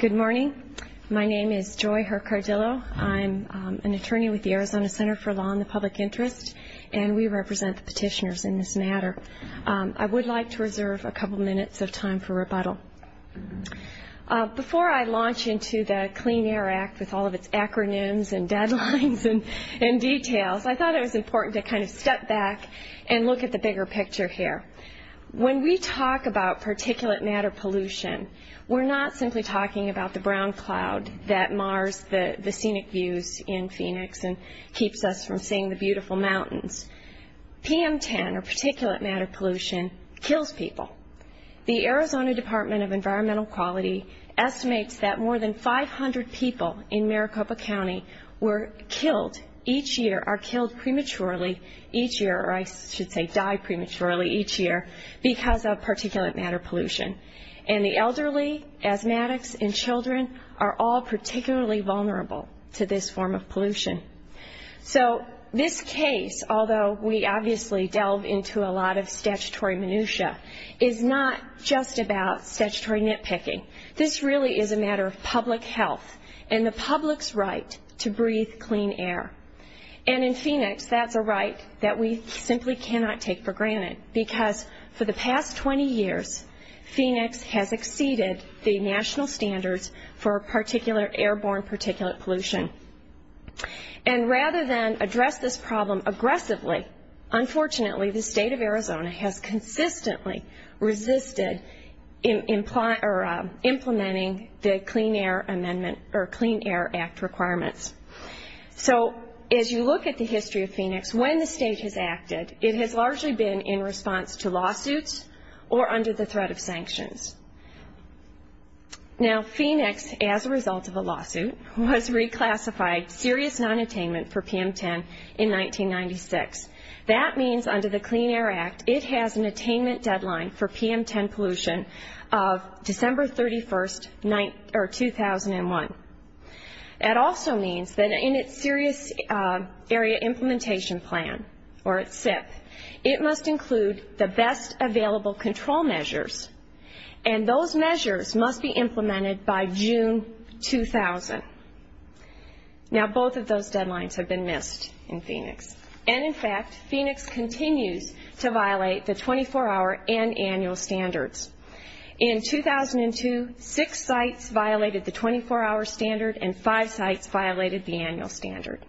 Good morning. My name is Joy Hercardillo. I'm an attorney with the Arizona Center for Law and the Public Interest, and we represent the petitioners in this matter. I would like to reserve a couple minutes of time for rebuttal. Before I launch into the Clean Air Act with all of its acronyms and deadlines and details, I thought it was important to kind of step back and look at the bigger picture here. When we talk about particulate matter pollution, we're not simply talking about the brown cloud that mars the scenic views in Phoenix and keeps us from seeing the beautiful mountains. PM10, or particulate matter pollution, kills people. The Arizona Department of Environmental Quality estimates that more than 500 people in Maricopa County were killed each year, or I should say die prematurely each year, because of particulate matter pollution. And the elderly, asthmatics, and children are all particularly vulnerable to this form of pollution. So this case, although we obviously delve into a lot of statutory minutia, is not just about statutory nitpicking. This really is a matter of public health and the public's right to breathe clean air. And in Phoenix, that's a right that we simply cannot take for granted, because for the past 20 years, Phoenix has exceeded the national standards for airborne particulate pollution. And rather than address this problem aggressively, unfortunately the state of Arizona has consistently resisted implementing the Clean Air Act requirements. So as you look at the history of Phoenix, when the state has acted, it has largely been in response to lawsuits or under the threat of sanctions. Now Phoenix, as a result of a lawsuit, was reclassified serious nonattainment for PM10 in 1996. That means under the Clean Air Act, it has an attainment deadline for PM10 pollution of December 31, 2001. That also means that in its Serious Area Implementation Plan, or its SIP, it must include the best available control measures, and those measures must be implemented by June 2000. Now both of those deadlines have been missed in Phoenix. And in fact, Phoenix continues to violate the 24-hour and annual standards. In 2002, six sites violated the 24-hour standard, and five sites violated the annual standard.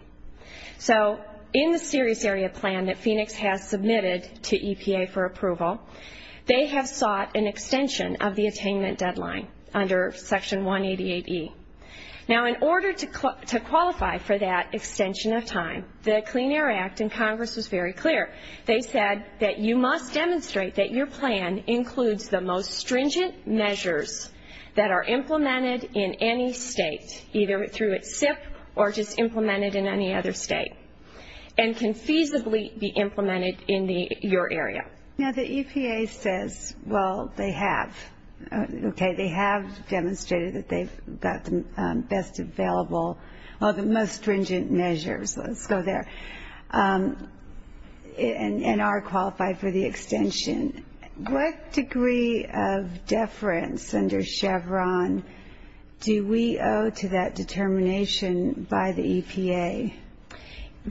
So in the Serious Area Plan that Phoenix has submitted to EPA for approval, they have sought an extension of the attainment deadline under Section 188E. Now in order to qualify for that extension of time, the Clean Air Act in Congress was very clear. They said that you must demonstrate that your plan includes the most stringent measures that are implemented in any state, either through its SIP or just implemented in any other state, and can feasibly be implemented in your area. Now the EPA says, well, they have. Okay, they have demonstrated that they've got the best available, or the most stringent measures. Let's go there. And are qualified for the extension. What degree of deference under Chevron do we owe to that determination by the EPA?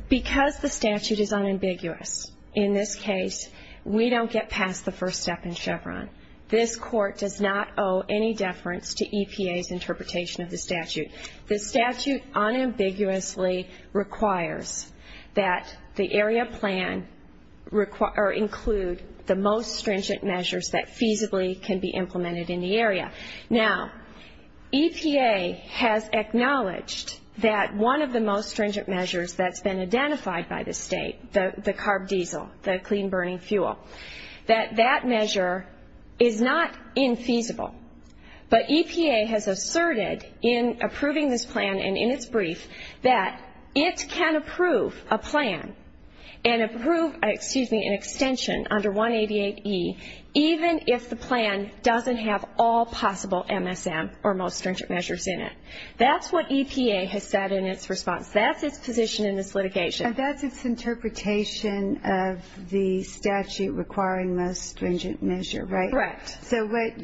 Because the statute is unambiguous. In this case, we don't get past the first step in Chevron. This Court does not owe any deference to EPA's interpretation of the statute. The statute unambiguously requires that the area plan include the most stringent measures that feasibly can be implemented in the area. Now EPA has acknowledged that one of the most stringent measures that's been identified by the state, the carb diesel, the clean burning fuel, that that measure is not infeasible. But EPA has asserted in approving this plan and in its brief that it can approve a plan and approve an extension under 188E, even if the plan doesn't have all possible MSM, or most stringent measures in it. That's what EPA has said in its response. That's its position in this litigation. And that's its interpretation of the statute requiring most stringent measure, right? Correct. So what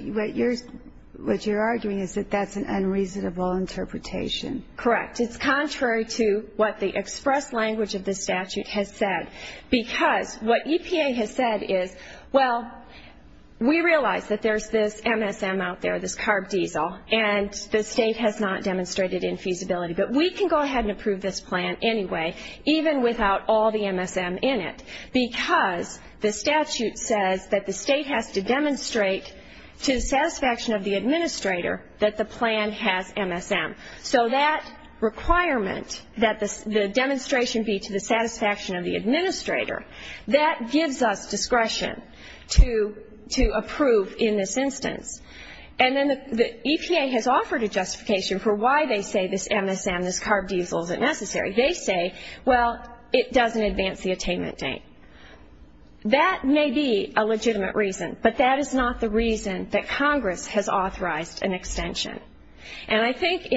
you're arguing is that that's an unreasonable interpretation. Correct. It's contrary to what the express language of the statute has said. Because what EPA has said is, well, we realize that there's this MSM out there, this carb diesel, and the state has not demonstrated infeasibility. But we can go ahead and approve this plan anyway, even without all the MSM in it, because the statute says that the state has to demonstrate to the satisfaction of the administrator that the plan has MSM. So that requirement that the demonstration be to the satisfaction of the administrator, that gives us discretion to approve in this instance. And then the EPA has offered a justification for why they say this MSM, this carb diesel, isn't necessary. They say, well, it doesn't advance the attainment date. That may be a legitimate reason, but that is not the reason that Congress has authorized an extension. And I think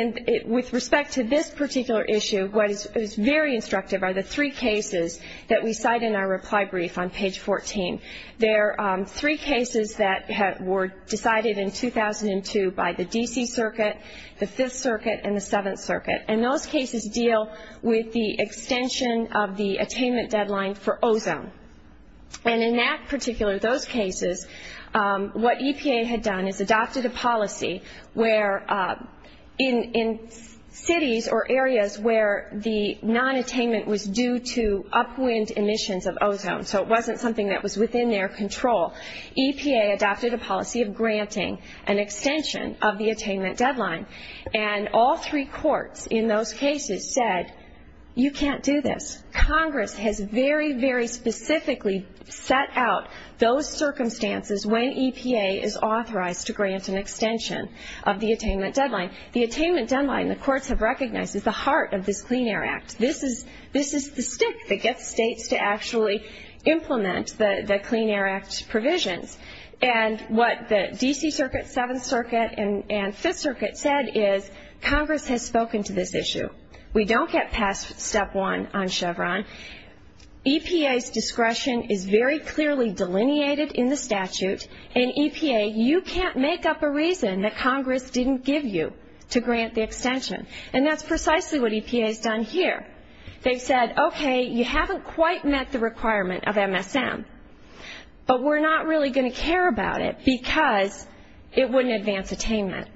with respect to this particular issue, what is very instructive are the three cases that we cite in our reply brief on page 14. They're three cases that were decided in 2002 by the D.C. Circuit, the Fifth Circuit, and the Seventh Circuit. And those cases deal with the extension of the attainment deadline for ozone. And in that particular, those cases, what EPA had done is adopted a policy where in cities or areas where the nonattainment was due to upwind emissions of ozone, so it wasn't something that was within their control, EPA adopted a policy of granting an extension of the attainment deadline. And all three courts in those cases said, you can't do this. Congress has very, very specifically set out those circumstances when EPA is authorized to grant an extension of the attainment deadline. The attainment deadline, the courts have recognized, is the heart of this Clean Air Act. This is the stick that gets states to actually implement the Clean Air Act provisions. And what the D.C. Circuit, Seventh Circuit, and Fifth Circuit said is Congress has spoken to this issue. We don't get past step one on Chevron. EPA's discretion is very clearly delineated in the statute, and EPA, you can't make up a reason that Congress didn't give you to grant the extension. And that's precisely what EPA has done here. They've said, okay, you haven't quite met the requirement of MSM, but we're not really going to care about it because it wouldn't advance attainment.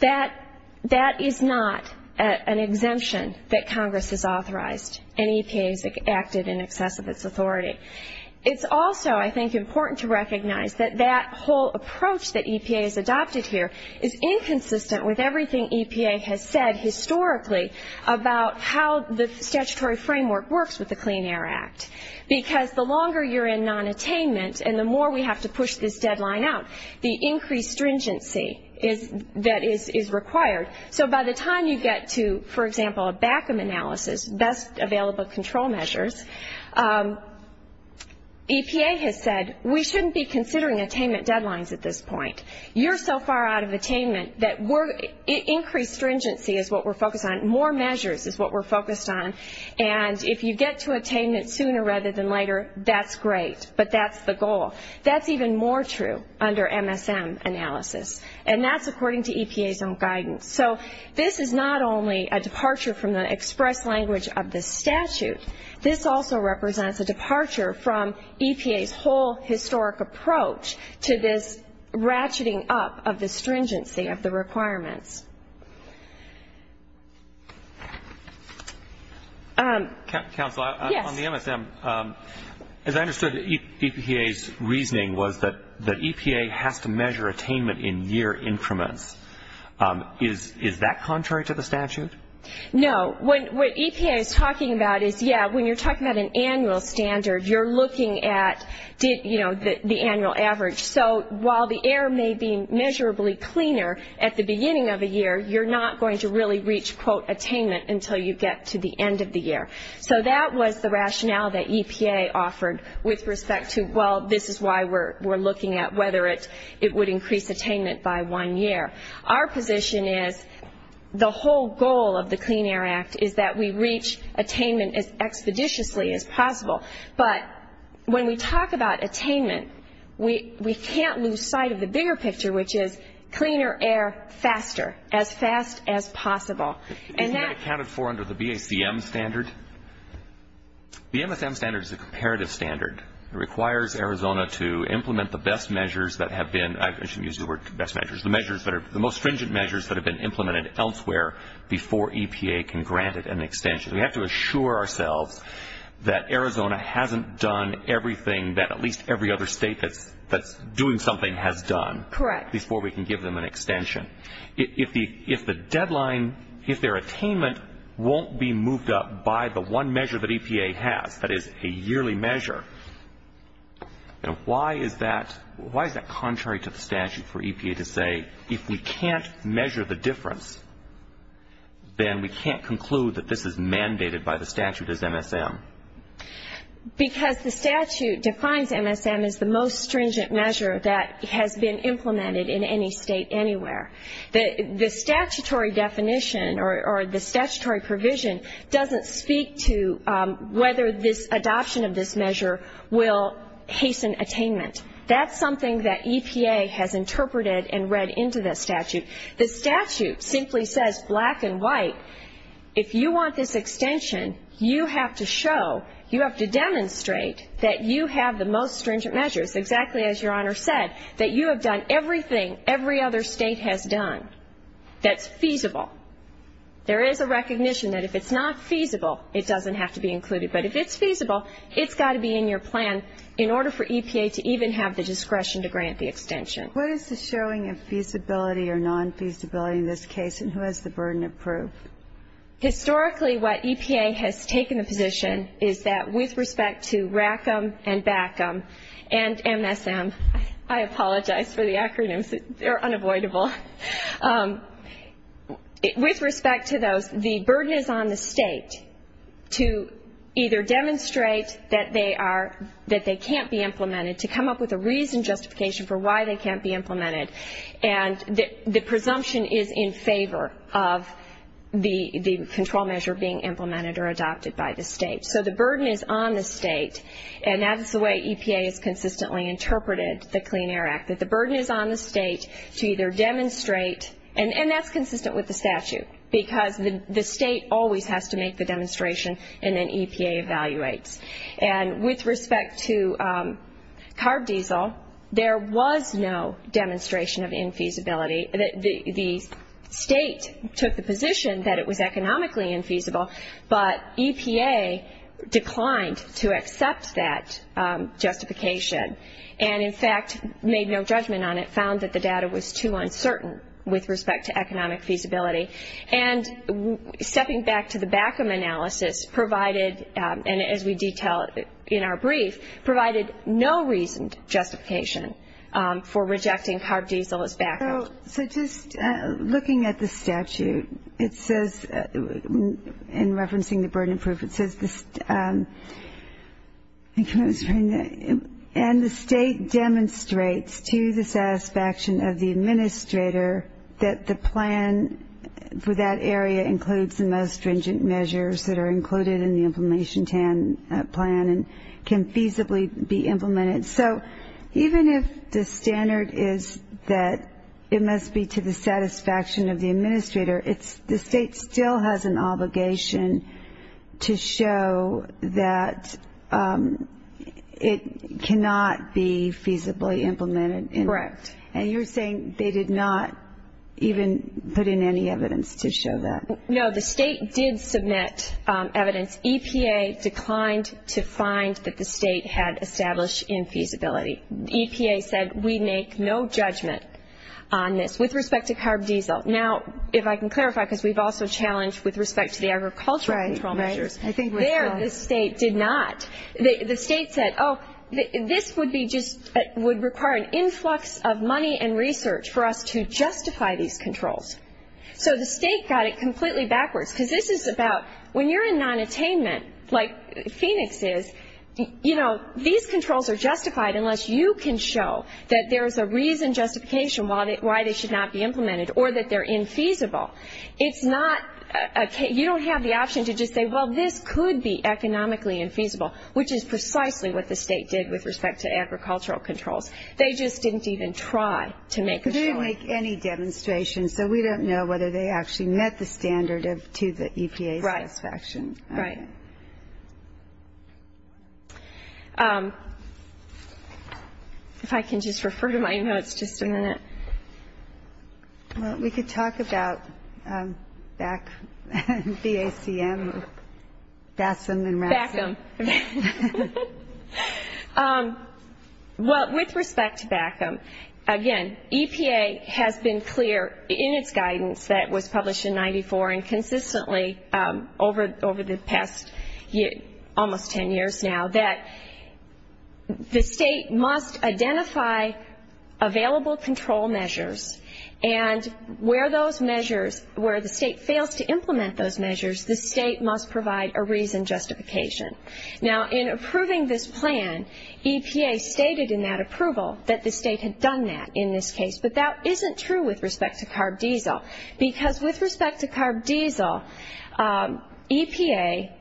That is not an exemption that Congress has authorized, and EPA has acted in excess of its authority. It's also, I think, important to recognize that that whole approach that EPA has adopted here is inconsistent with everything EPA has said historically about how the statutory framework works with the Clean Air Act. Because the longer you're in nonattainment, and the more we have to push this deadline out, the increased stringency that is required. So by the time you get to, for example, a BACM analysis, Best Available Control Measures, EPA has said we shouldn't be considering attainment deadlines at this point. You're so far out of attainment that increased stringency is what we're focused on. More measures is what we're focused on. And if you get to attainment sooner rather than later, that's great, but that's the goal. That's even more true under MSM analysis, and that's according to EPA's own guidance. So this is not only a departure from the express language of the statute. This also represents a departure from EPA's whole historic approach to this ratcheting up of the stringency of the requirements. Counsel, on the MSM, as I understood, EPA's reasoning was that EPA has to measure attainment in year increments. Is that contrary to the statute? No. What EPA is talking about is, yeah, when you're talking about an annual standard, you're looking at the annual average. So while the air may be measurably cleaner at the beginning of a year, you're not going to really reach, quote, attainment until you get to the end of the year. So that was the rationale that EPA offered with respect to, well, this is why we're looking at whether it would increase attainment by one year. Our position is the whole goal of the Clean Air Act is that we reach attainment as expeditiously as possible. But when we talk about attainment, we can't lose sight of the bigger picture, which is cleaner air faster, as fast as possible. Is that accounted for under the BACM standard? The MSM standard is a comparative standard. It requires Arizona to implement the best measures that have been, I shouldn't use the word best measures, the most stringent measures that have been implemented elsewhere before EPA can grant it an extension. We have to assure ourselves that Arizona hasn't done everything that at least every other state that's doing something has done. Correct. Before we can give them an extension. If the deadline, if their attainment won't be moved up by the one measure that EPA has, that is a yearly measure, why is that contrary to the statute for EPA to say, if we can't measure the difference, then we can't conclude that this is mandated by the statute as MSM? Because the statute defines MSM as the most stringent measure that has been implemented in any state anywhere. The statutory definition or the statutory provision doesn't speak to whether this adoption of this measure will hasten attainment. That's something that EPA has interpreted and read into the statute. The statute simply says black and white, if you want this extension, you have to show, you have to demonstrate that you have the most stringent measures, exactly as your Honor said, that you have done everything every other state has done that's feasible. There is a recognition that if it's not feasible, it doesn't have to be included. But if it's feasible, it's got to be in your plan in order for EPA to even have the discretion to grant the extension. What is the showing of feasibility or non-feasibility in this case and who has the burden of proof? Historically, what EPA has taken the position is that with respect to RACM and BACM and MSM, I apologize for the acronyms, they're unavoidable. With respect to those, the burden is on the state to either demonstrate that they are, that they can't be implemented, to come up with a reason, justification for why they can't be implemented. And the presumption is in favor of the control measure being implemented or adopted by the state. So the burden is on the state, and that is the way EPA has consistently interpreted the Clean Air Act, that the burden is on the state to either demonstrate, and that's consistent with the statute, because the state always has to make the demonstration and then EPA evaluates. And with respect to carb diesel, there was no demonstration of infeasibility. The state took the position that it was economically infeasible, but EPA declined to accept that justification and, in fact, made no judgment on it, found that the data was too uncertain with respect to economic feasibility. And stepping back to the BACM analysis provided, and as we detail in our brief, provided no reasoned justification for rejecting carb diesel as BACM. So just looking at the statute, it says, in referencing the burden of proof, it says, and the state demonstrates to the satisfaction of the administrator that the plan for that area includes the most stringent measures that are included in the Implementation Plan and can feasibly be implemented. So even if the standard is that it must be to the satisfaction of the administrator, the state still has an obligation to show that it cannot be feasibly implemented. Correct. And you're saying they did not even put in any evidence to show that. No, the state did submit evidence. EPA declined to find that the state had established infeasibility. EPA said, we make no judgment on this with respect to carb diesel. Now, if I can clarify, because we've also challenged with respect to the agricultural control measures. Right, right. There, the state did not. The state said, oh, this would require an influx of money and research for us to justify these controls. So the state got it completely backwards. Because this is about, when you're in nonattainment, like Phoenix is, you know, these controls are justified unless you can show that there is a reason justification why they should not be implemented or that they're infeasible. It's not, you don't have the option to just say, well, this could be economically infeasible, which is precisely what the state did with respect to agricultural controls. They just didn't even try to make a choice. They didn't make any demonstrations, so we don't know whether they actually met the standard to the EPA satisfaction. Right, right. If I can just refer to my notes just a minute. Well, we could talk about BACM, BASM and RASM. BACM. Well, with respect to BACM, again, EPA has been clear in its guidance that was published in 94 and consistently over the past almost ten years now, that the state must identify available control measures. And where those measures, where the state fails to implement those measures, the state must provide a reason justification. Now, in approving this plan, EPA stated in that approval that the state had done that in this case, but that isn't true with respect to carb diesel because with respect to carb diesel, EPA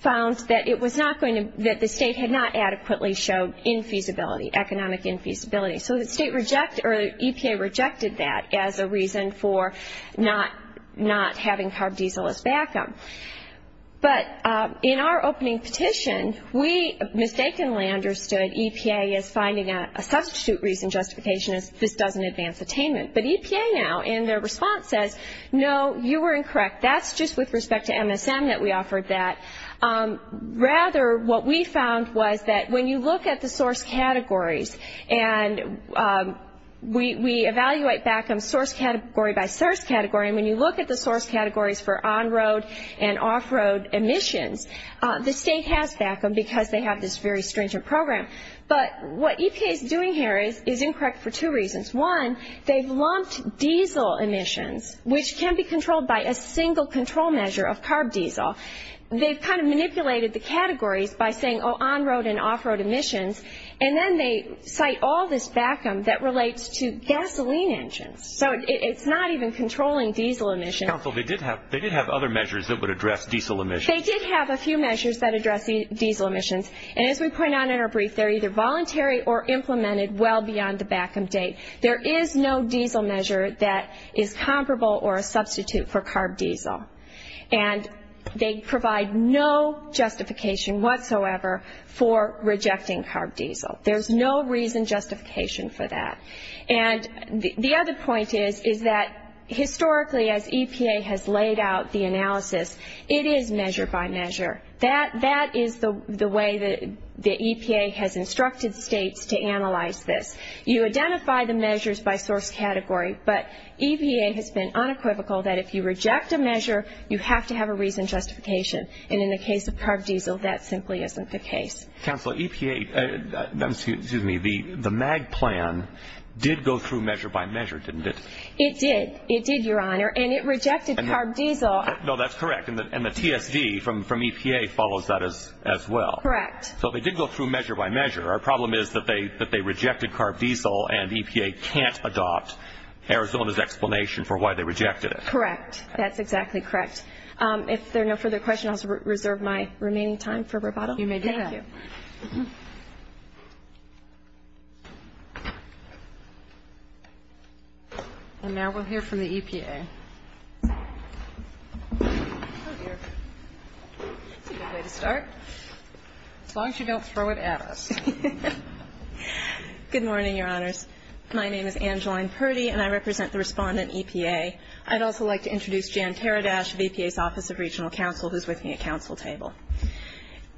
found that it was not going to, that the state had not adequately showed infeasibility, economic infeasibility. So the state rejected, or EPA rejected that as a reason for not having carb diesel as BACM. But in our opening petition, we mistakenly understood EPA as finding a substitute reason justification, as this doesn't advance attainment. But EPA now, in their response, says, no, you were incorrect. That's just with respect to MSM that we offered that. Rather, what we found was that when you look at the source categories, and we evaluate BACM source category by source category, and when you look at the source categories for on-road and off-road emissions, the state has BACM because they have this very stringent program. But what EPA is doing here is incorrect for two reasons. One, they've lumped diesel emissions, which can be controlled by a single control measure of carb diesel. They've kind of manipulated the categories by saying, oh, on-road and off-road emissions. And then they cite all this BACM that relates to gasoline engines. So it's not even controlling diesel emissions. Counsel, they did have other measures that would address diesel emissions. They did have a few measures that address diesel emissions. And as we point out in our brief, they're either voluntary or implemented well beyond the BACM date. There is no diesel measure that is comparable or a substitute for carb diesel. And they provide no justification whatsoever for rejecting carb diesel. There's no reason justification for that. And the other point is that historically, as EPA has laid out the analysis, it is measure by measure. That is the way that the EPA has instructed states to analyze this. You identify the measures by source category, but EPA has been unequivocal that if you reject a measure, you have to have a reason justification. And in the case of carb diesel, that simply isn't the case. Counsel, EPA, excuse me, the MAG plan did go through measure by measure, didn't it? It did. It did, Your Honor. And it rejected carb diesel. No, that's correct. And the TSD from EPA follows that as well. Correct. So they did go through measure by measure. Our problem is that they rejected carb diesel and EPA can't adopt Arizona's explanation for why they rejected it. Correct. That's exactly correct. If there are no further questions, I'll reserve my remaining time for rebuttal. You may do that. Thank you. And now we'll hear from the EPA. Oh, dear. That's a good way to start. As long as you don't throw it at us. Good morning, Your Honors. My name is Angeline Purdy, and I represent the Respondent, EPA. I'd also like to introduce Jan Taradash of EPA's Office of Regional Counsel, who's with me at counsel table.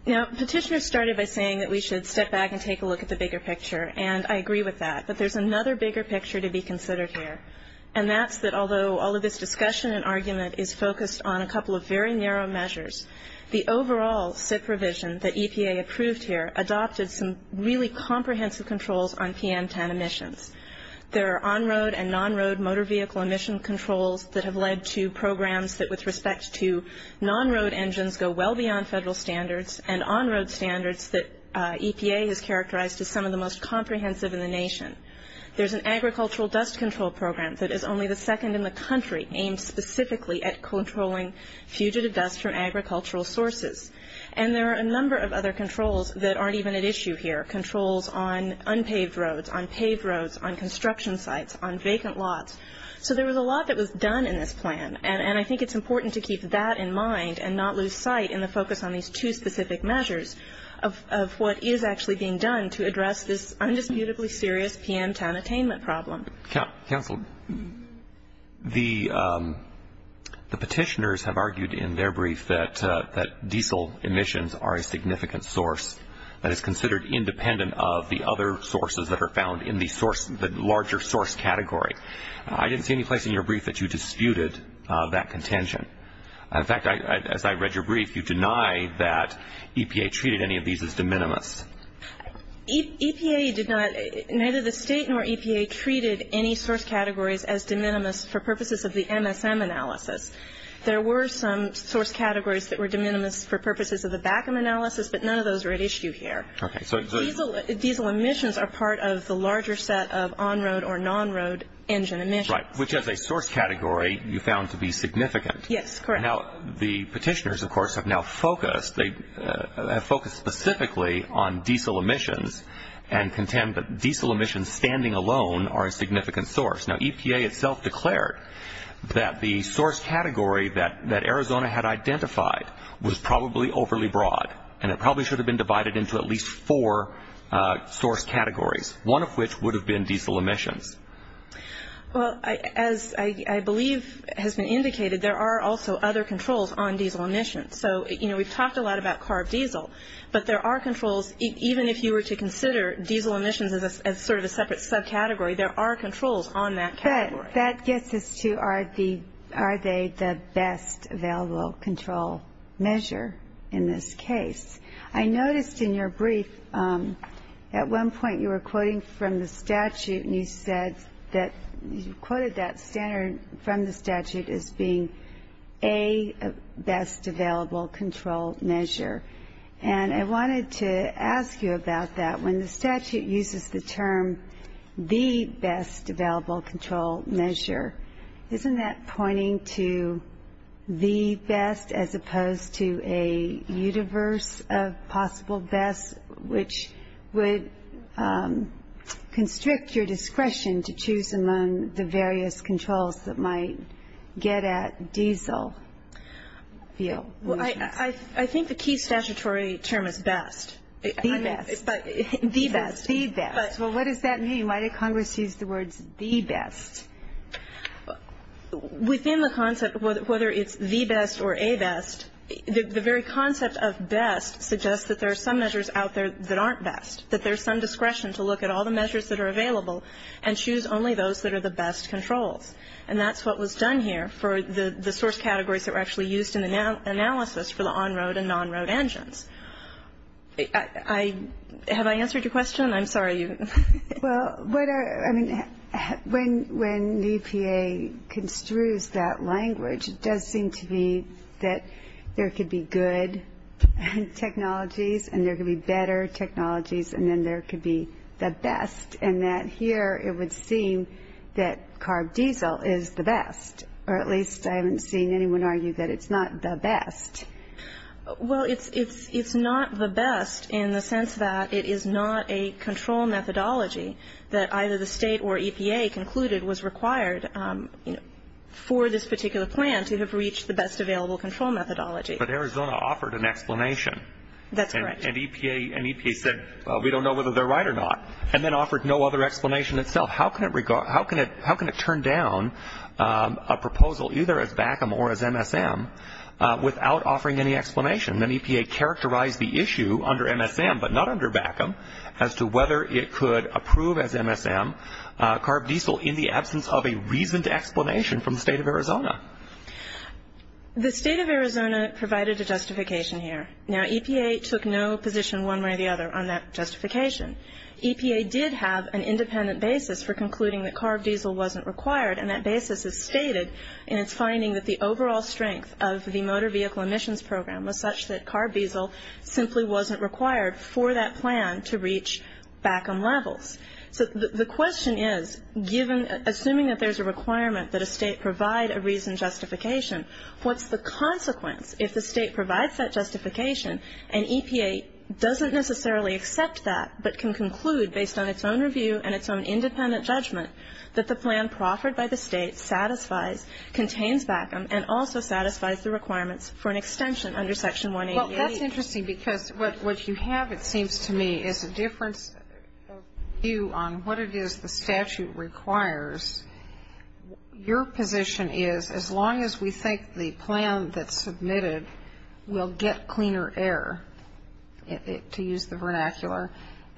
Now, Petitioners started by saying that we should step back and take a look at the bigger picture, and I agree with that. But there's another bigger picture to be considered here, and that's that although all of this discussion and argument is focused on a couple of very narrow measures, the overall SIPP revision that EPA approved here adopted some really comprehensive controls on PM10 emissions. There are on-road and non-road motor vehicle emission controls that have led to programs that, with respect to non-road engines, go well beyond federal standards, and on-road standards that EPA has characterized as some of the most comprehensive in the nation. There's an agricultural dust control program that is only the second in the country aimed specifically at controlling fugitive dust from agricultural sources. And there are a number of other controls that aren't even at issue here, controls on unpaved roads, on paved roads, on construction sites, on vacant lots. So there was a lot that was done in this plan, and I think it's important to keep that in mind and not lose sight in the focus on these two specific measures of what is actually being done to address this indisputably serious PM10 attainment problem. Counsel, the petitioners have argued in their brief that diesel emissions are a significant source that is considered independent of the other sources that are found in the larger source category. I didn't see any place in your brief that you disputed that contention. In fact, as I read your brief, you denied that EPA treated any of these as de minimis. EPA did not. Neither the state nor EPA treated any source categories as de minimis for purposes of the MSM analysis. There were some source categories that were de minimis for purposes of the BACM analysis, but none of those are at issue here. Diesel emissions are part of the larger set of on-road or non-road engine emissions. Right, which as a source category you found to be significant. Yes, correct. Now, the petitioners, of course, have now focused specifically on diesel emissions and contend that diesel emissions standing alone are a significant source. Now, EPA itself declared that the source category that Arizona had identified was probably overly broad and it probably should have been divided into at least four source categories, one of which would have been diesel emissions. Well, as I believe has been indicated, there are also other controls on diesel emissions. So, you know, we've talked a lot about carb diesel, but there are controls, even if you were to consider diesel emissions as sort of a separate subcategory, there are controls on that category. But that gets us to are they the best available control measure in this case? I noticed in your brief at one point you were quoting from the statute and you said that you quoted that standard from the statute as being a best available control measure. And I wanted to ask you about that. When the statute uses the term the best available control measure, isn't that pointing to the best as opposed to a universe of possible bests, which would constrict your discretion to choose among the various controls that might get at diesel fuel emissions? Well, I think the key statutory term is best. The best. The best. The best. Well, what does that mean? Why did Congress use the words the best? Within the concept, whether it's the best or a best, the very concept of best suggests that there are some measures out there that aren't best, that there's some discretion to look at all the measures that are available and choose only those that are the best controls. And that's what was done here for the source categories that were actually used in the analysis for the on-road and non-road engines. Have I answered your question? I'm sorry. Well, when EPA construes that language, it does seem to me that there could be good technologies and there could be better technologies and then there could be the best, and that here it would seem that carb diesel is the best, or at least I haven't seen anyone argue that it's not the best. Well, it's not the best in the sense that it is not a control methodology that either the State or EPA concluded was required for this particular plan to have reached the best available control methodology. But Arizona offered an explanation. That's correct. And EPA said, well, we don't know whether they're right or not, and then offered no other explanation itself. How can it turn down a proposal either as BACM or as MSM without offering any explanation? Then EPA characterized the issue under MSM, but not under BACM, as to whether it could approve as MSM carb diesel in the absence of a reasoned explanation from the State of Arizona. The State of Arizona provided a justification here. Now, EPA took no position one way or the other on that justification. EPA did have an independent basis for concluding that carb diesel wasn't required, and that basis is stated in its finding that the overall strength of the Motor Vehicle Emissions Program was such that carb diesel simply wasn't required for that plan to reach BACM levels. So the question is, assuming that there's a requirement that a State provide a reasoned justification, what's the consequence if the State provides that justification and EPA doesn't necessarily accept that but can conclude based on its own review and its own independent judgment that the plan proffered by the State satisfies, contains BACM, and also satisfies the requirements for an extension under Section 188? Well, that's interesting because what you have, it seems to me, is a difference of view on what it is the statute requires. Your position is as long as we think the plan that's submitted will get cleaner air, to use the vernacular,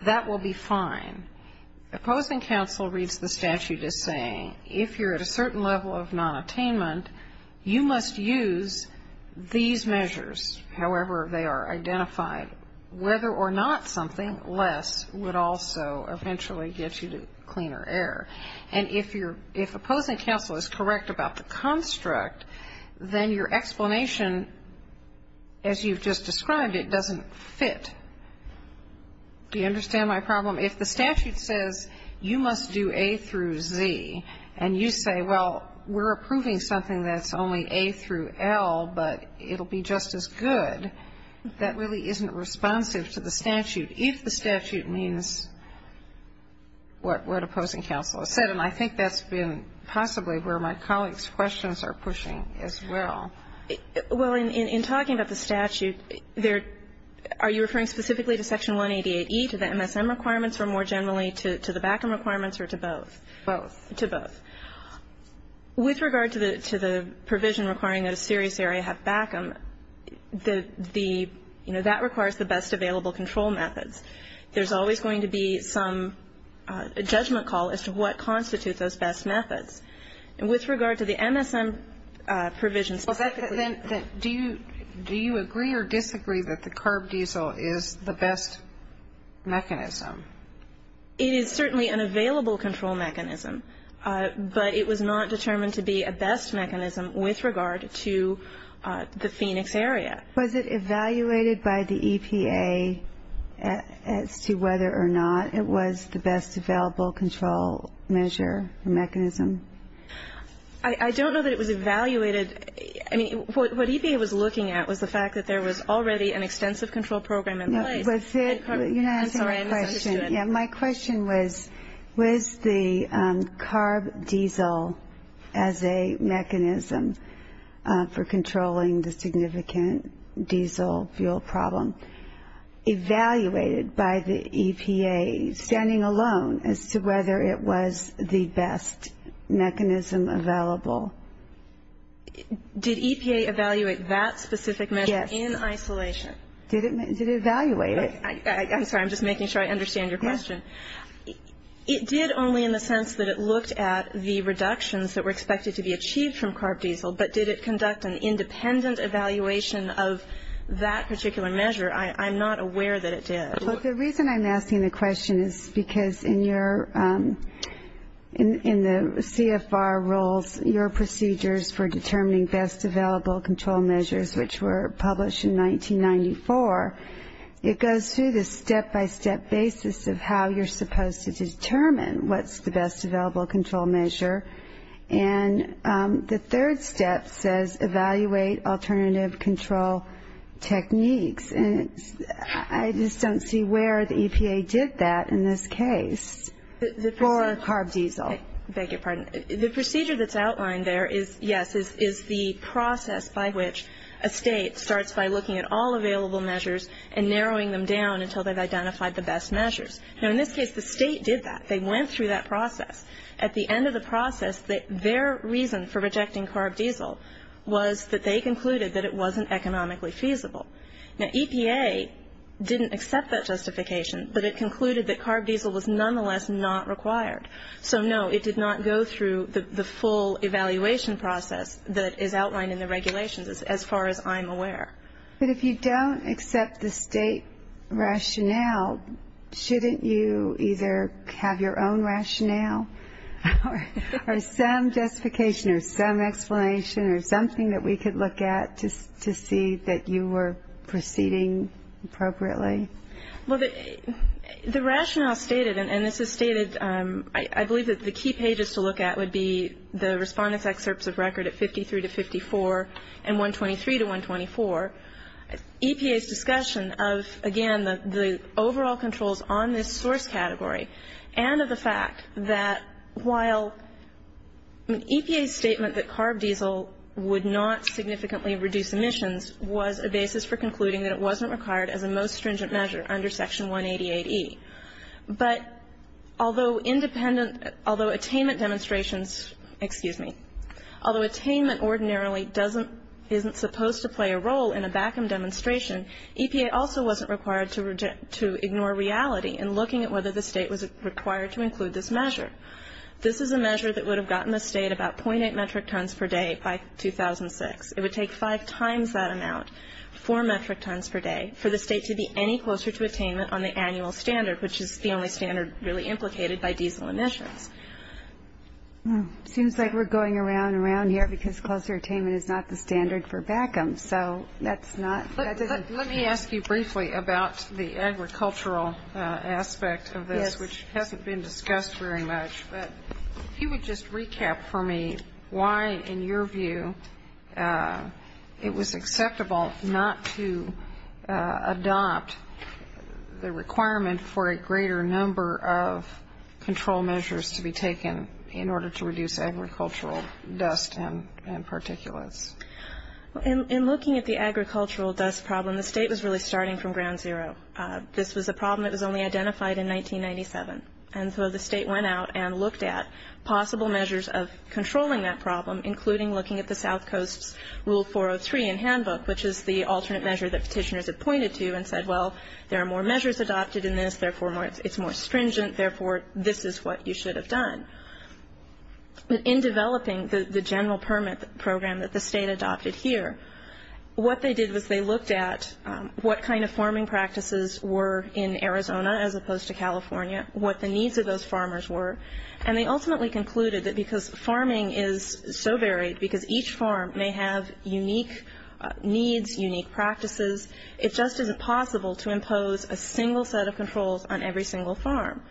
that will be fine. Opposing counsel reads the statute as saying if you're at a certain level of nonattainment, you must use these measures, however they are identified. Whether or not something less would also eventually get you to cleaner air. And if opposing counsel is correct about the construct, then your explanation, as you've just described, it doesn't fit. Do you understand my problem? If the statute says you must do A through Z, and you say, well, we're approving something that's only A through L, but it'll be just as good, that really isn't responsive to the statute. If the statute means what opposing counsel has said, and I think that's been possibly where my colleagues' questions are pushing as well. Well, in talking about the statute, are you referring specifically to Section 188E, to the MSM requirements, or more generally to the BACM requirements, or to both? Both. To both. With regard to the provision requiring that a serious area have BACM, that requires the best available control methods. There's always going to be some judgment call as to what constitutes those best methods. With regard to the MSM provision specifically. Do you agree or disagree that the carb diesel is the best mechanism? It is certainly an available control mechanism, but it was not determined to be a best mechanism with regard to the Phoenix area. Was it evaluated by the EPA as to whether or not it was the best available control measure or mechanism? I don't know that it was evaluated. I mean, what EPA was looking at was the fact that there was already an extensive control program in place. You're not answering my question. Yeah, my question was, was the carb diesel as a mechanism for controlling the significant diesel fuel problem evaluated by the EPA, standing alone, as to whether it was the best mechanism available? Did EPA evaluate that specific measure in isolation? Did it evaluate it? I'm sorry, I'm just making sure I understand your question. It did only in the sense that it looked at the reductions that were expected to be achieved from carb diesel, but did it conduct an independent evaluation of that particular measure? I'm not aware that it did. Look, the reason I'm asking the question is because in the CFR rules, your procedures for determining best available control measures, which were published in 1994, it goes through the step-by-step basis of how you're supposed to determine what's the best available control measure. And the third step says evaluate alternative control techniques. And I just don't see where the EPA did that in this case for carb diesel. I beg your pardon. The procedure that's outlined there is, yes, is the process by which a state starts by looking at all available measures and narrowing them down until they've identified the best measures. Now, in this case, the state did that. They went through that process. At the end of the process, their reason for rejecting carb diesel was that they concluded that it wasn't economically feasible. Now, EPA didn't accept that justification, but it concluded that carb diesel was nonetheless not required. So, no, it did not go through the full evaluation process that is outlined in the regulations, as far as I'm aware. But if you don't accept the state rationale, shouldn't you either have your own rationale or some justification or some explanation or something that we could look at to see that you were proceeding appropriately? Well, the rationale stated, and this is stated, I believe that the key pages to look at would be the respondents' excerpts of record at 53 to 54 and 123 to 124. EPA's discussion of, again, the overall controls on this source category and of the fact that while EPA's statement that carb diesel would not significantly reduce emissions was a basis for concluding that it wasn't required as a most stringent measure under Section 188E. But although independent, although attainment demonstrations, excuse me, although attainment ordinarily doesn't, isn't supposed to play a role in a BACM demonstration, EPA also wasn't required to ignore reality in looking at whether the state was required to include this measure. This is a measure that would have gotten the state about .8 metric tons per day by 2006. It would take five times that amount, four metric tons per day, for the state to be any closer to attainment on the annual standard, which is the only standard really implicated by diesel emissions. Seems like we're going around and around here because closer attainment is not the standard for BACM, so that's not. Let me ask you briefly about the agricultural aspect of this, which hasn't been discussed very much. But if you would just recap for me why, in your view, it was acceptable not to adopt the requirement for a greater number of control measures to be taken in order to reduce agricultural dust and particulates. In looking at the agricultural dust problem, the state was really starting from ground zero. This was a problem that was only identified in 1997. And so the state went out and looked at possible measures of controlling that problem, including looking at the South Coast's Rule 403 in handbook, which is the alternate measure that petitioners had pointed to and said, well, there are more measures adopted in this, therefore it's more stringent, therefore this is what you should have done. In developing the general permit program that the state adopted here, what they did was they looked at what kind of farming practices were in Arizona as opposed to California, what the needs of those farmers were, and they ultimately concluded that because farming is so varied, because each farm may have unique needs, unique practices, it just isn't possible to impose a single set of controls on every single farm.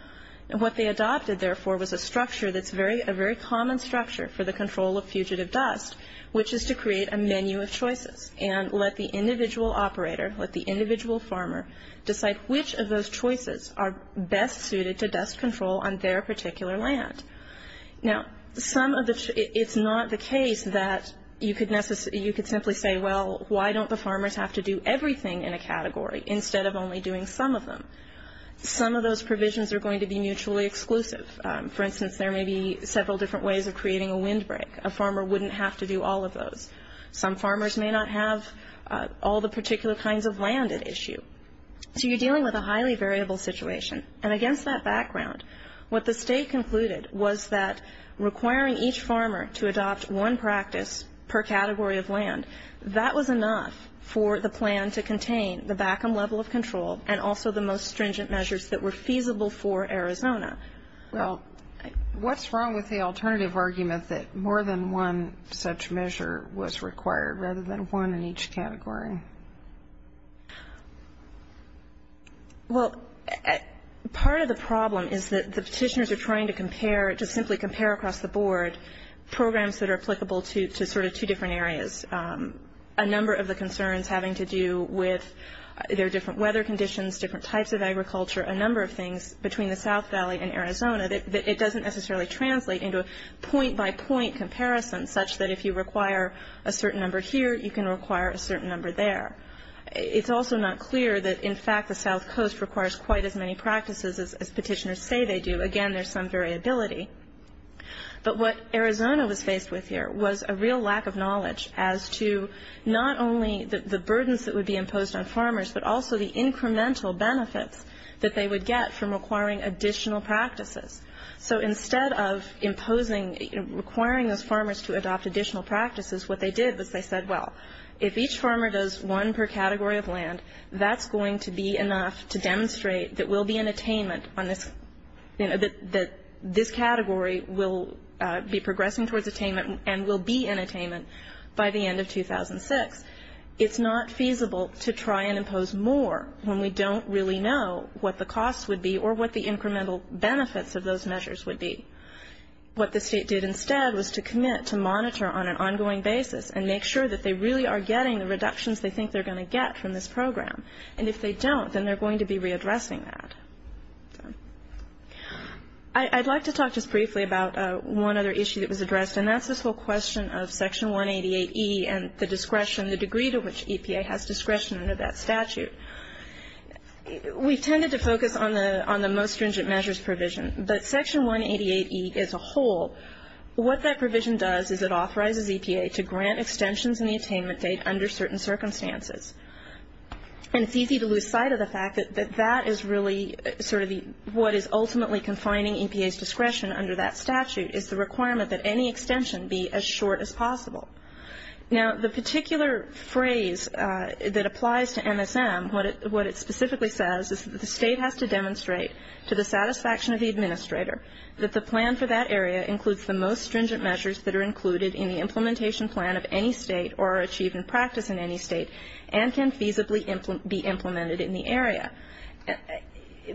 What they adopted, therefore, was a structure that's a very common structure for the control of fugitive dust, which is to create a menu of choices and let the individual operator, let the individual farmer, decide which of those choices are best suited to dust control on their particular land. Now, it's not the case that you could simply say, well, why don't the farmers have to do everything in a category instead of only doing some of them? Some of those provisions are going to be mutually exclusive. For instance, there may be several different ways of creating a windbreak. A farmer wouldn't have to do all of those. Some farmers may not have all the particular kinds of land at issue. So you're dealing with a highly variable situation, and against that background, what the state concluded was that requiring each farmer to adopt one practice per category of land, that was enough for the plan to contain the BACM level of control and also the most stringent measures that were feasible for Arizona. Well, what's wrong with the alternative argument that more than one such measure was required rather than one in each category? Well, part of the problem is that the petitioners are trying to compare, to simply compare across the board, programs that are applicable to sort of two different areas, a number of the concerns having to do with their different weather conditions, different types of agriculture, a number of things between the South Valley and Arizona, that it doesn't necessarily translate into a point-by-point comparison such that if you require a certain number here, you can require a certain number there. It's also not clear that, in fact, the South Coast requires quite as many practices as petitioners say they do. Again, there's some variability. But what Arizona was faced with here was a real lack of knowledge as to not only the burdens that would be imposed on farmers but also the incremental benefits that they would get from requiring additional practices. So instead of imposing, requiring those farmers to adopt additional practices, what they did was they said, well, if each farmer does one per category of land, that's going to be enough to demonstrate that we'll be in attainment on this, that this category will be progressing towards attainment and will be in attainment by the end of 2006. It's not feasible to try and impose more when we don't really know what the costs would be or what the incremental benefits of those measures would be. What the state did instead was to commit to monitor on an ongoing basis and make sure that they really are getting the reductions they think they're going to get from this program. And if they don't, then they're going to be readdressing that. I'd like to talk just briefly about one other issue that was addressed, and that's this whole question of Section 188E and the discretion, the degree to which EPA has discretion under that statute. We tended to focus on the most stringent measures provision, but Section 188E as a whole, what that provision does is it authorizes EPA to grant extensions in the attainment date under certain circumstances. And it's easy to lose sight of the fact that that is really sort of what is ultimately confining EPA's discretion under that statute, is the requirement that any extension be as short as possible. Now, the particular phrase that applies to MSM, what it specifically says is that the state has to demonstrate to the satisfaction of the administrator that the plan for that area includes the most stringent measures that are included in the implementation plan of any state or are achieved in practice in any state and can feasibly be implemented in the area.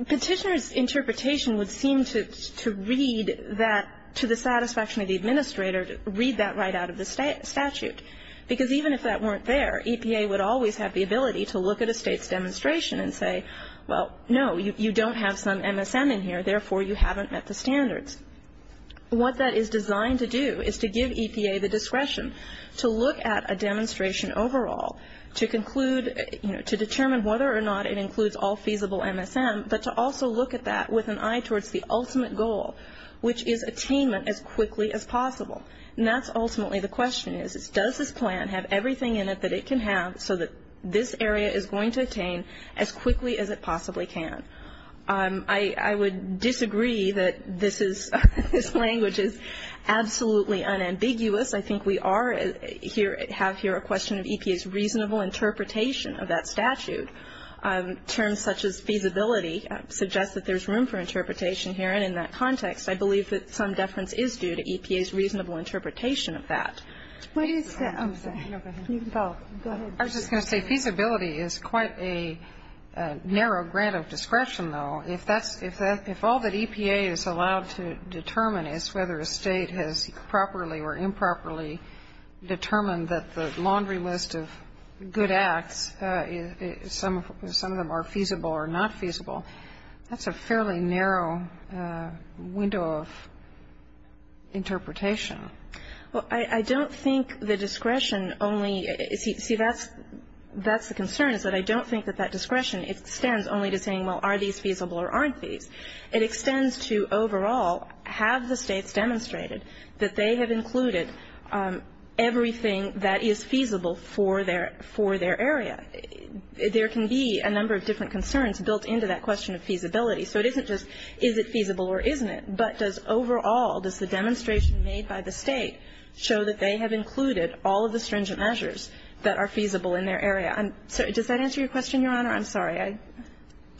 Petitioner's interpretation would seem to read that to the satisfaction of the administrator, read that right out of the statute, because even if that weren't there, EPA would always have the ability to look at a state's demonstration and say, well, no, you don't have some MSM in here, therefore you haven't met the standards. What that is designed to do is to give EPA the discretion to look at a demonstration overall to conclude, to determine whether or not it includes all feasible MSM, but to also look at that with an eye towards the ultimate goal, which is attainment as quickly as possible. And that's ultimately the question is, does this plan have everything in it that it can have so that this area is going to attain as quickly as it possibly can? I would disagree that this language is absolutely unambiguous. I think we have here a question of EPA's reasonable interpretation of that statute. Terms such as feasibility suggest that there's room for interpretation here, and in that context I believe that some deference is due to EPA's reasonable interpretation of that. I was just going to say feasibility is quite a narrow grant of discretion, though. If all that EPA is allowed to determine is whether a state has properly or improperly determined that the laundry list of good acts, some of them are feasible or not feasible, that's a fairly narrow window of interpretation. Well, I don't think the discretion only – see, that's the concern, is that I don't think that that discretion extends only to saying, well, are these feasible or aren't these? It extends to, overall, have the states demonstrated that they have included everything that is feasible for their area? There can be a number of different concerns built into that question of feasibility, so it isn't just is it feasible or isn't it, but does overall, does the demonstration made by the state show that they have included all of the stringent measures that are feasible in their area? Does that answer your question, Your Honor? I'm sorry.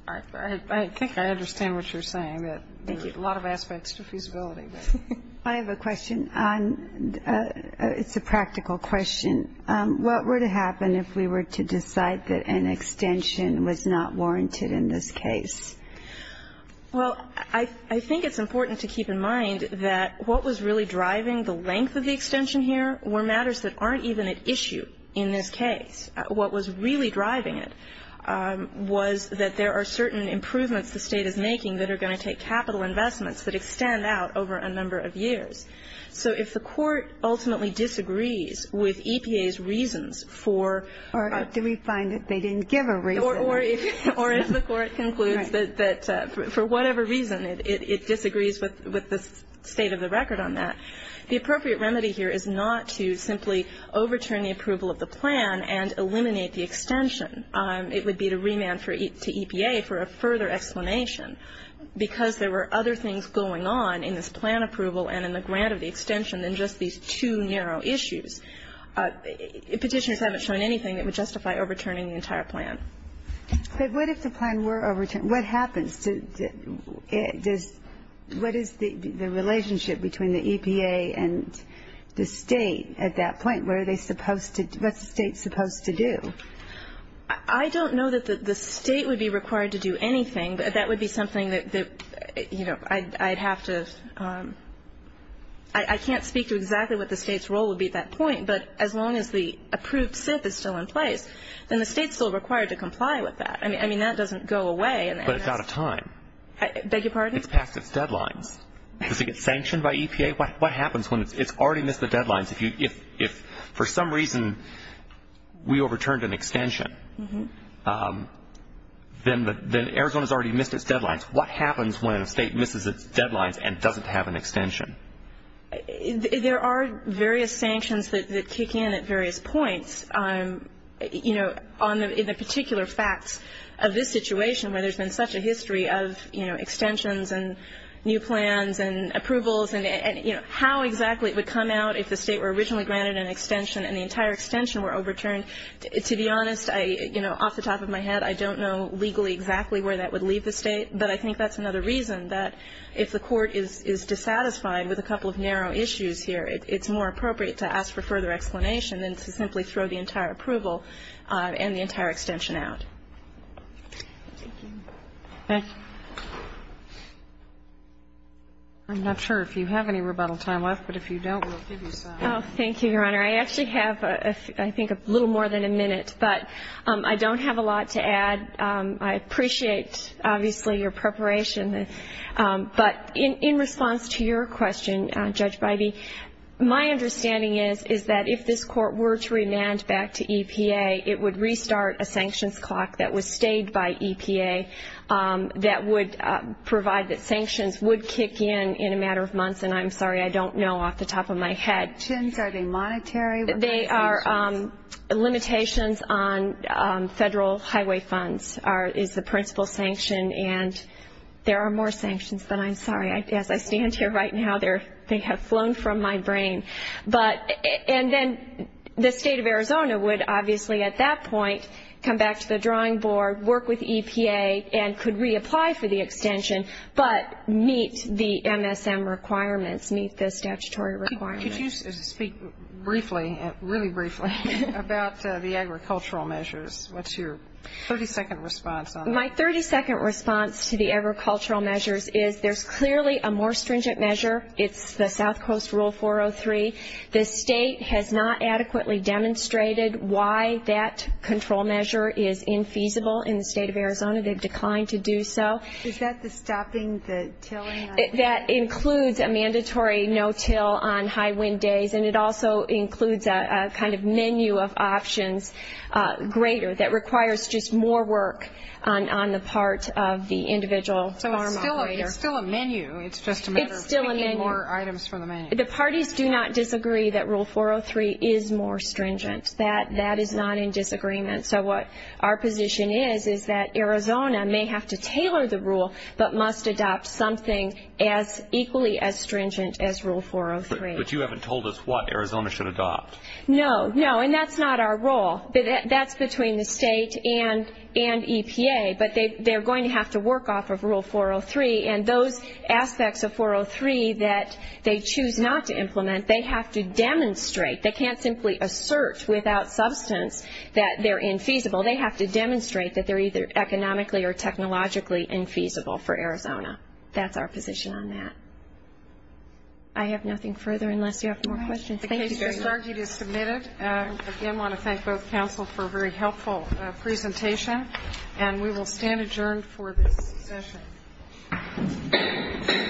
I think I understand what you're saying, that there are a lot of aspects to feasibility. I have a question. It's a practical question. What were to happen if we were to decide that an extension was not warranted in this case? Well, I think it's important to keep in mind that what was really driving the length of the extension here were matters that aren't even at issue in this case. What was really driving it was that there are certain improvements the state is making that are going to take capital investments that extend out over a number of years. So if the Court ultimately disagrees with EPA's reasons for the reset. Or if we find that they didn't give a reason. Or if the Court concludes that for whatever reason it disagrees with the state of the record on that, The appropriate remedy here is not to simply overturn the approval of the plan and eliminate the extension. It would be to remand to EPA for a further explanation. Because there were other things going on in this plan approval and in the grant of the extension than just these two narrow issues. Petitioners haven't shown anything that would justify overturning the entire plan. But what if the plan were overturned? What happens? What is the relationship between the EPA and the state at that point? What are they supposed to do? What's the state supposed to do? I don't know that the state would be required to do anything. But that would be something that, you know, I'd have to. I can't speak to exactly what the state's role would be at that point. But as long as the approved SIF is still in place, then the state's still required to comply with that. I mean, that doesn't go away. But it's out of time. I beg your pardon? It's past its deadlines. Does it get sanctioned by EPA? What happens when it's already missed the deadlines? If for some reason we overturned an extension, then Arizona's already missed its deadlines. What happens when a state misses its deadlines and doesn't have an extension? There are various sanctions that kick in at various points. You know, in the particular facts of this situation where there's been such a history of, you know, extensions and new plans and approvals and, you know, how exactly it would come out if the state were originally granted an extension and the entire extension were overturned. To be honest, you know, off the top of my head, I don't know legally exactly where that would leave the state. But I think that's another reason that if the court is dissatisfied with a couple of narrow issues here, it's more appropriate to ask for further explanation than to simply throw the entire approval and the entire extension out. Thank you. Thank you. I'm not sure if you have any rebuttal time left, but if you don't, we'll give you some. Thank you, Your Honor. I actually have, I think, a little more than a minute, but I don't have a lot to add. I appreciate, obviously, your preparation. But in response to your question, Judge Bybee, my understanding is that if this court were to remand back to EPA, it would restart a sanctions clock that was staged by EPA that would provide that sanctions would kick in in a matter of months, and I'm sorry, I don't know off the top of my head. Are the sanctions, are they monetary? They are limitations on federal highway funds is the principal sanction, and there are more sanctions than I'm sorry. As I stand here right now, they have flown from my brain. And then the State of Arizona would obviously at that point come back to the drawing board, work with EPA, and could reapply for the extension, but meet the MSM requirements, meet the statutory requirements. Could you speak briefly, really briefly, about the agricultural measures? What's your 30-second response on that? My 30-second response to the agricultural measures is there's clearly a more stringent measure. It's the South Coast Rule 403. The state has not adequately demonstrated why that control measure is infeasible in the State of Arizona. They've declined to do so. Is that the stopping the tilling? That includes a mandatory no-till on high-wind days, and it also includes a kind of menu of options greater that requires just more work on the part of the individual farm operator. It's still a menu. It's just a matter of picking more items from the menu. It's still a menu. The parties do not disagree that Rule 403 is more stringent. That is not in disagreement. So what our position is is that Arizona may have to tailor the rule, but must adopt something as equally as stringent as Rule 403. But you haven't told us what Arizona should adopt. No, no, and that's not our role. That's between the state and EPA, but they're going to have to work off of Rule 403, and those aspects of 403 that they choose not to implement, they have to demonstrate. They can't simply assert without substance that they're infeasible. They have to demonstrate that they're either economically or technologically infeasible for Arizona. That's our position on that. I have nothing further unless you have more questions. Thank you very much. The case is submitted. Again, I want to thank both counsel for a very helpful presentation, and we will stand adjourned for this session.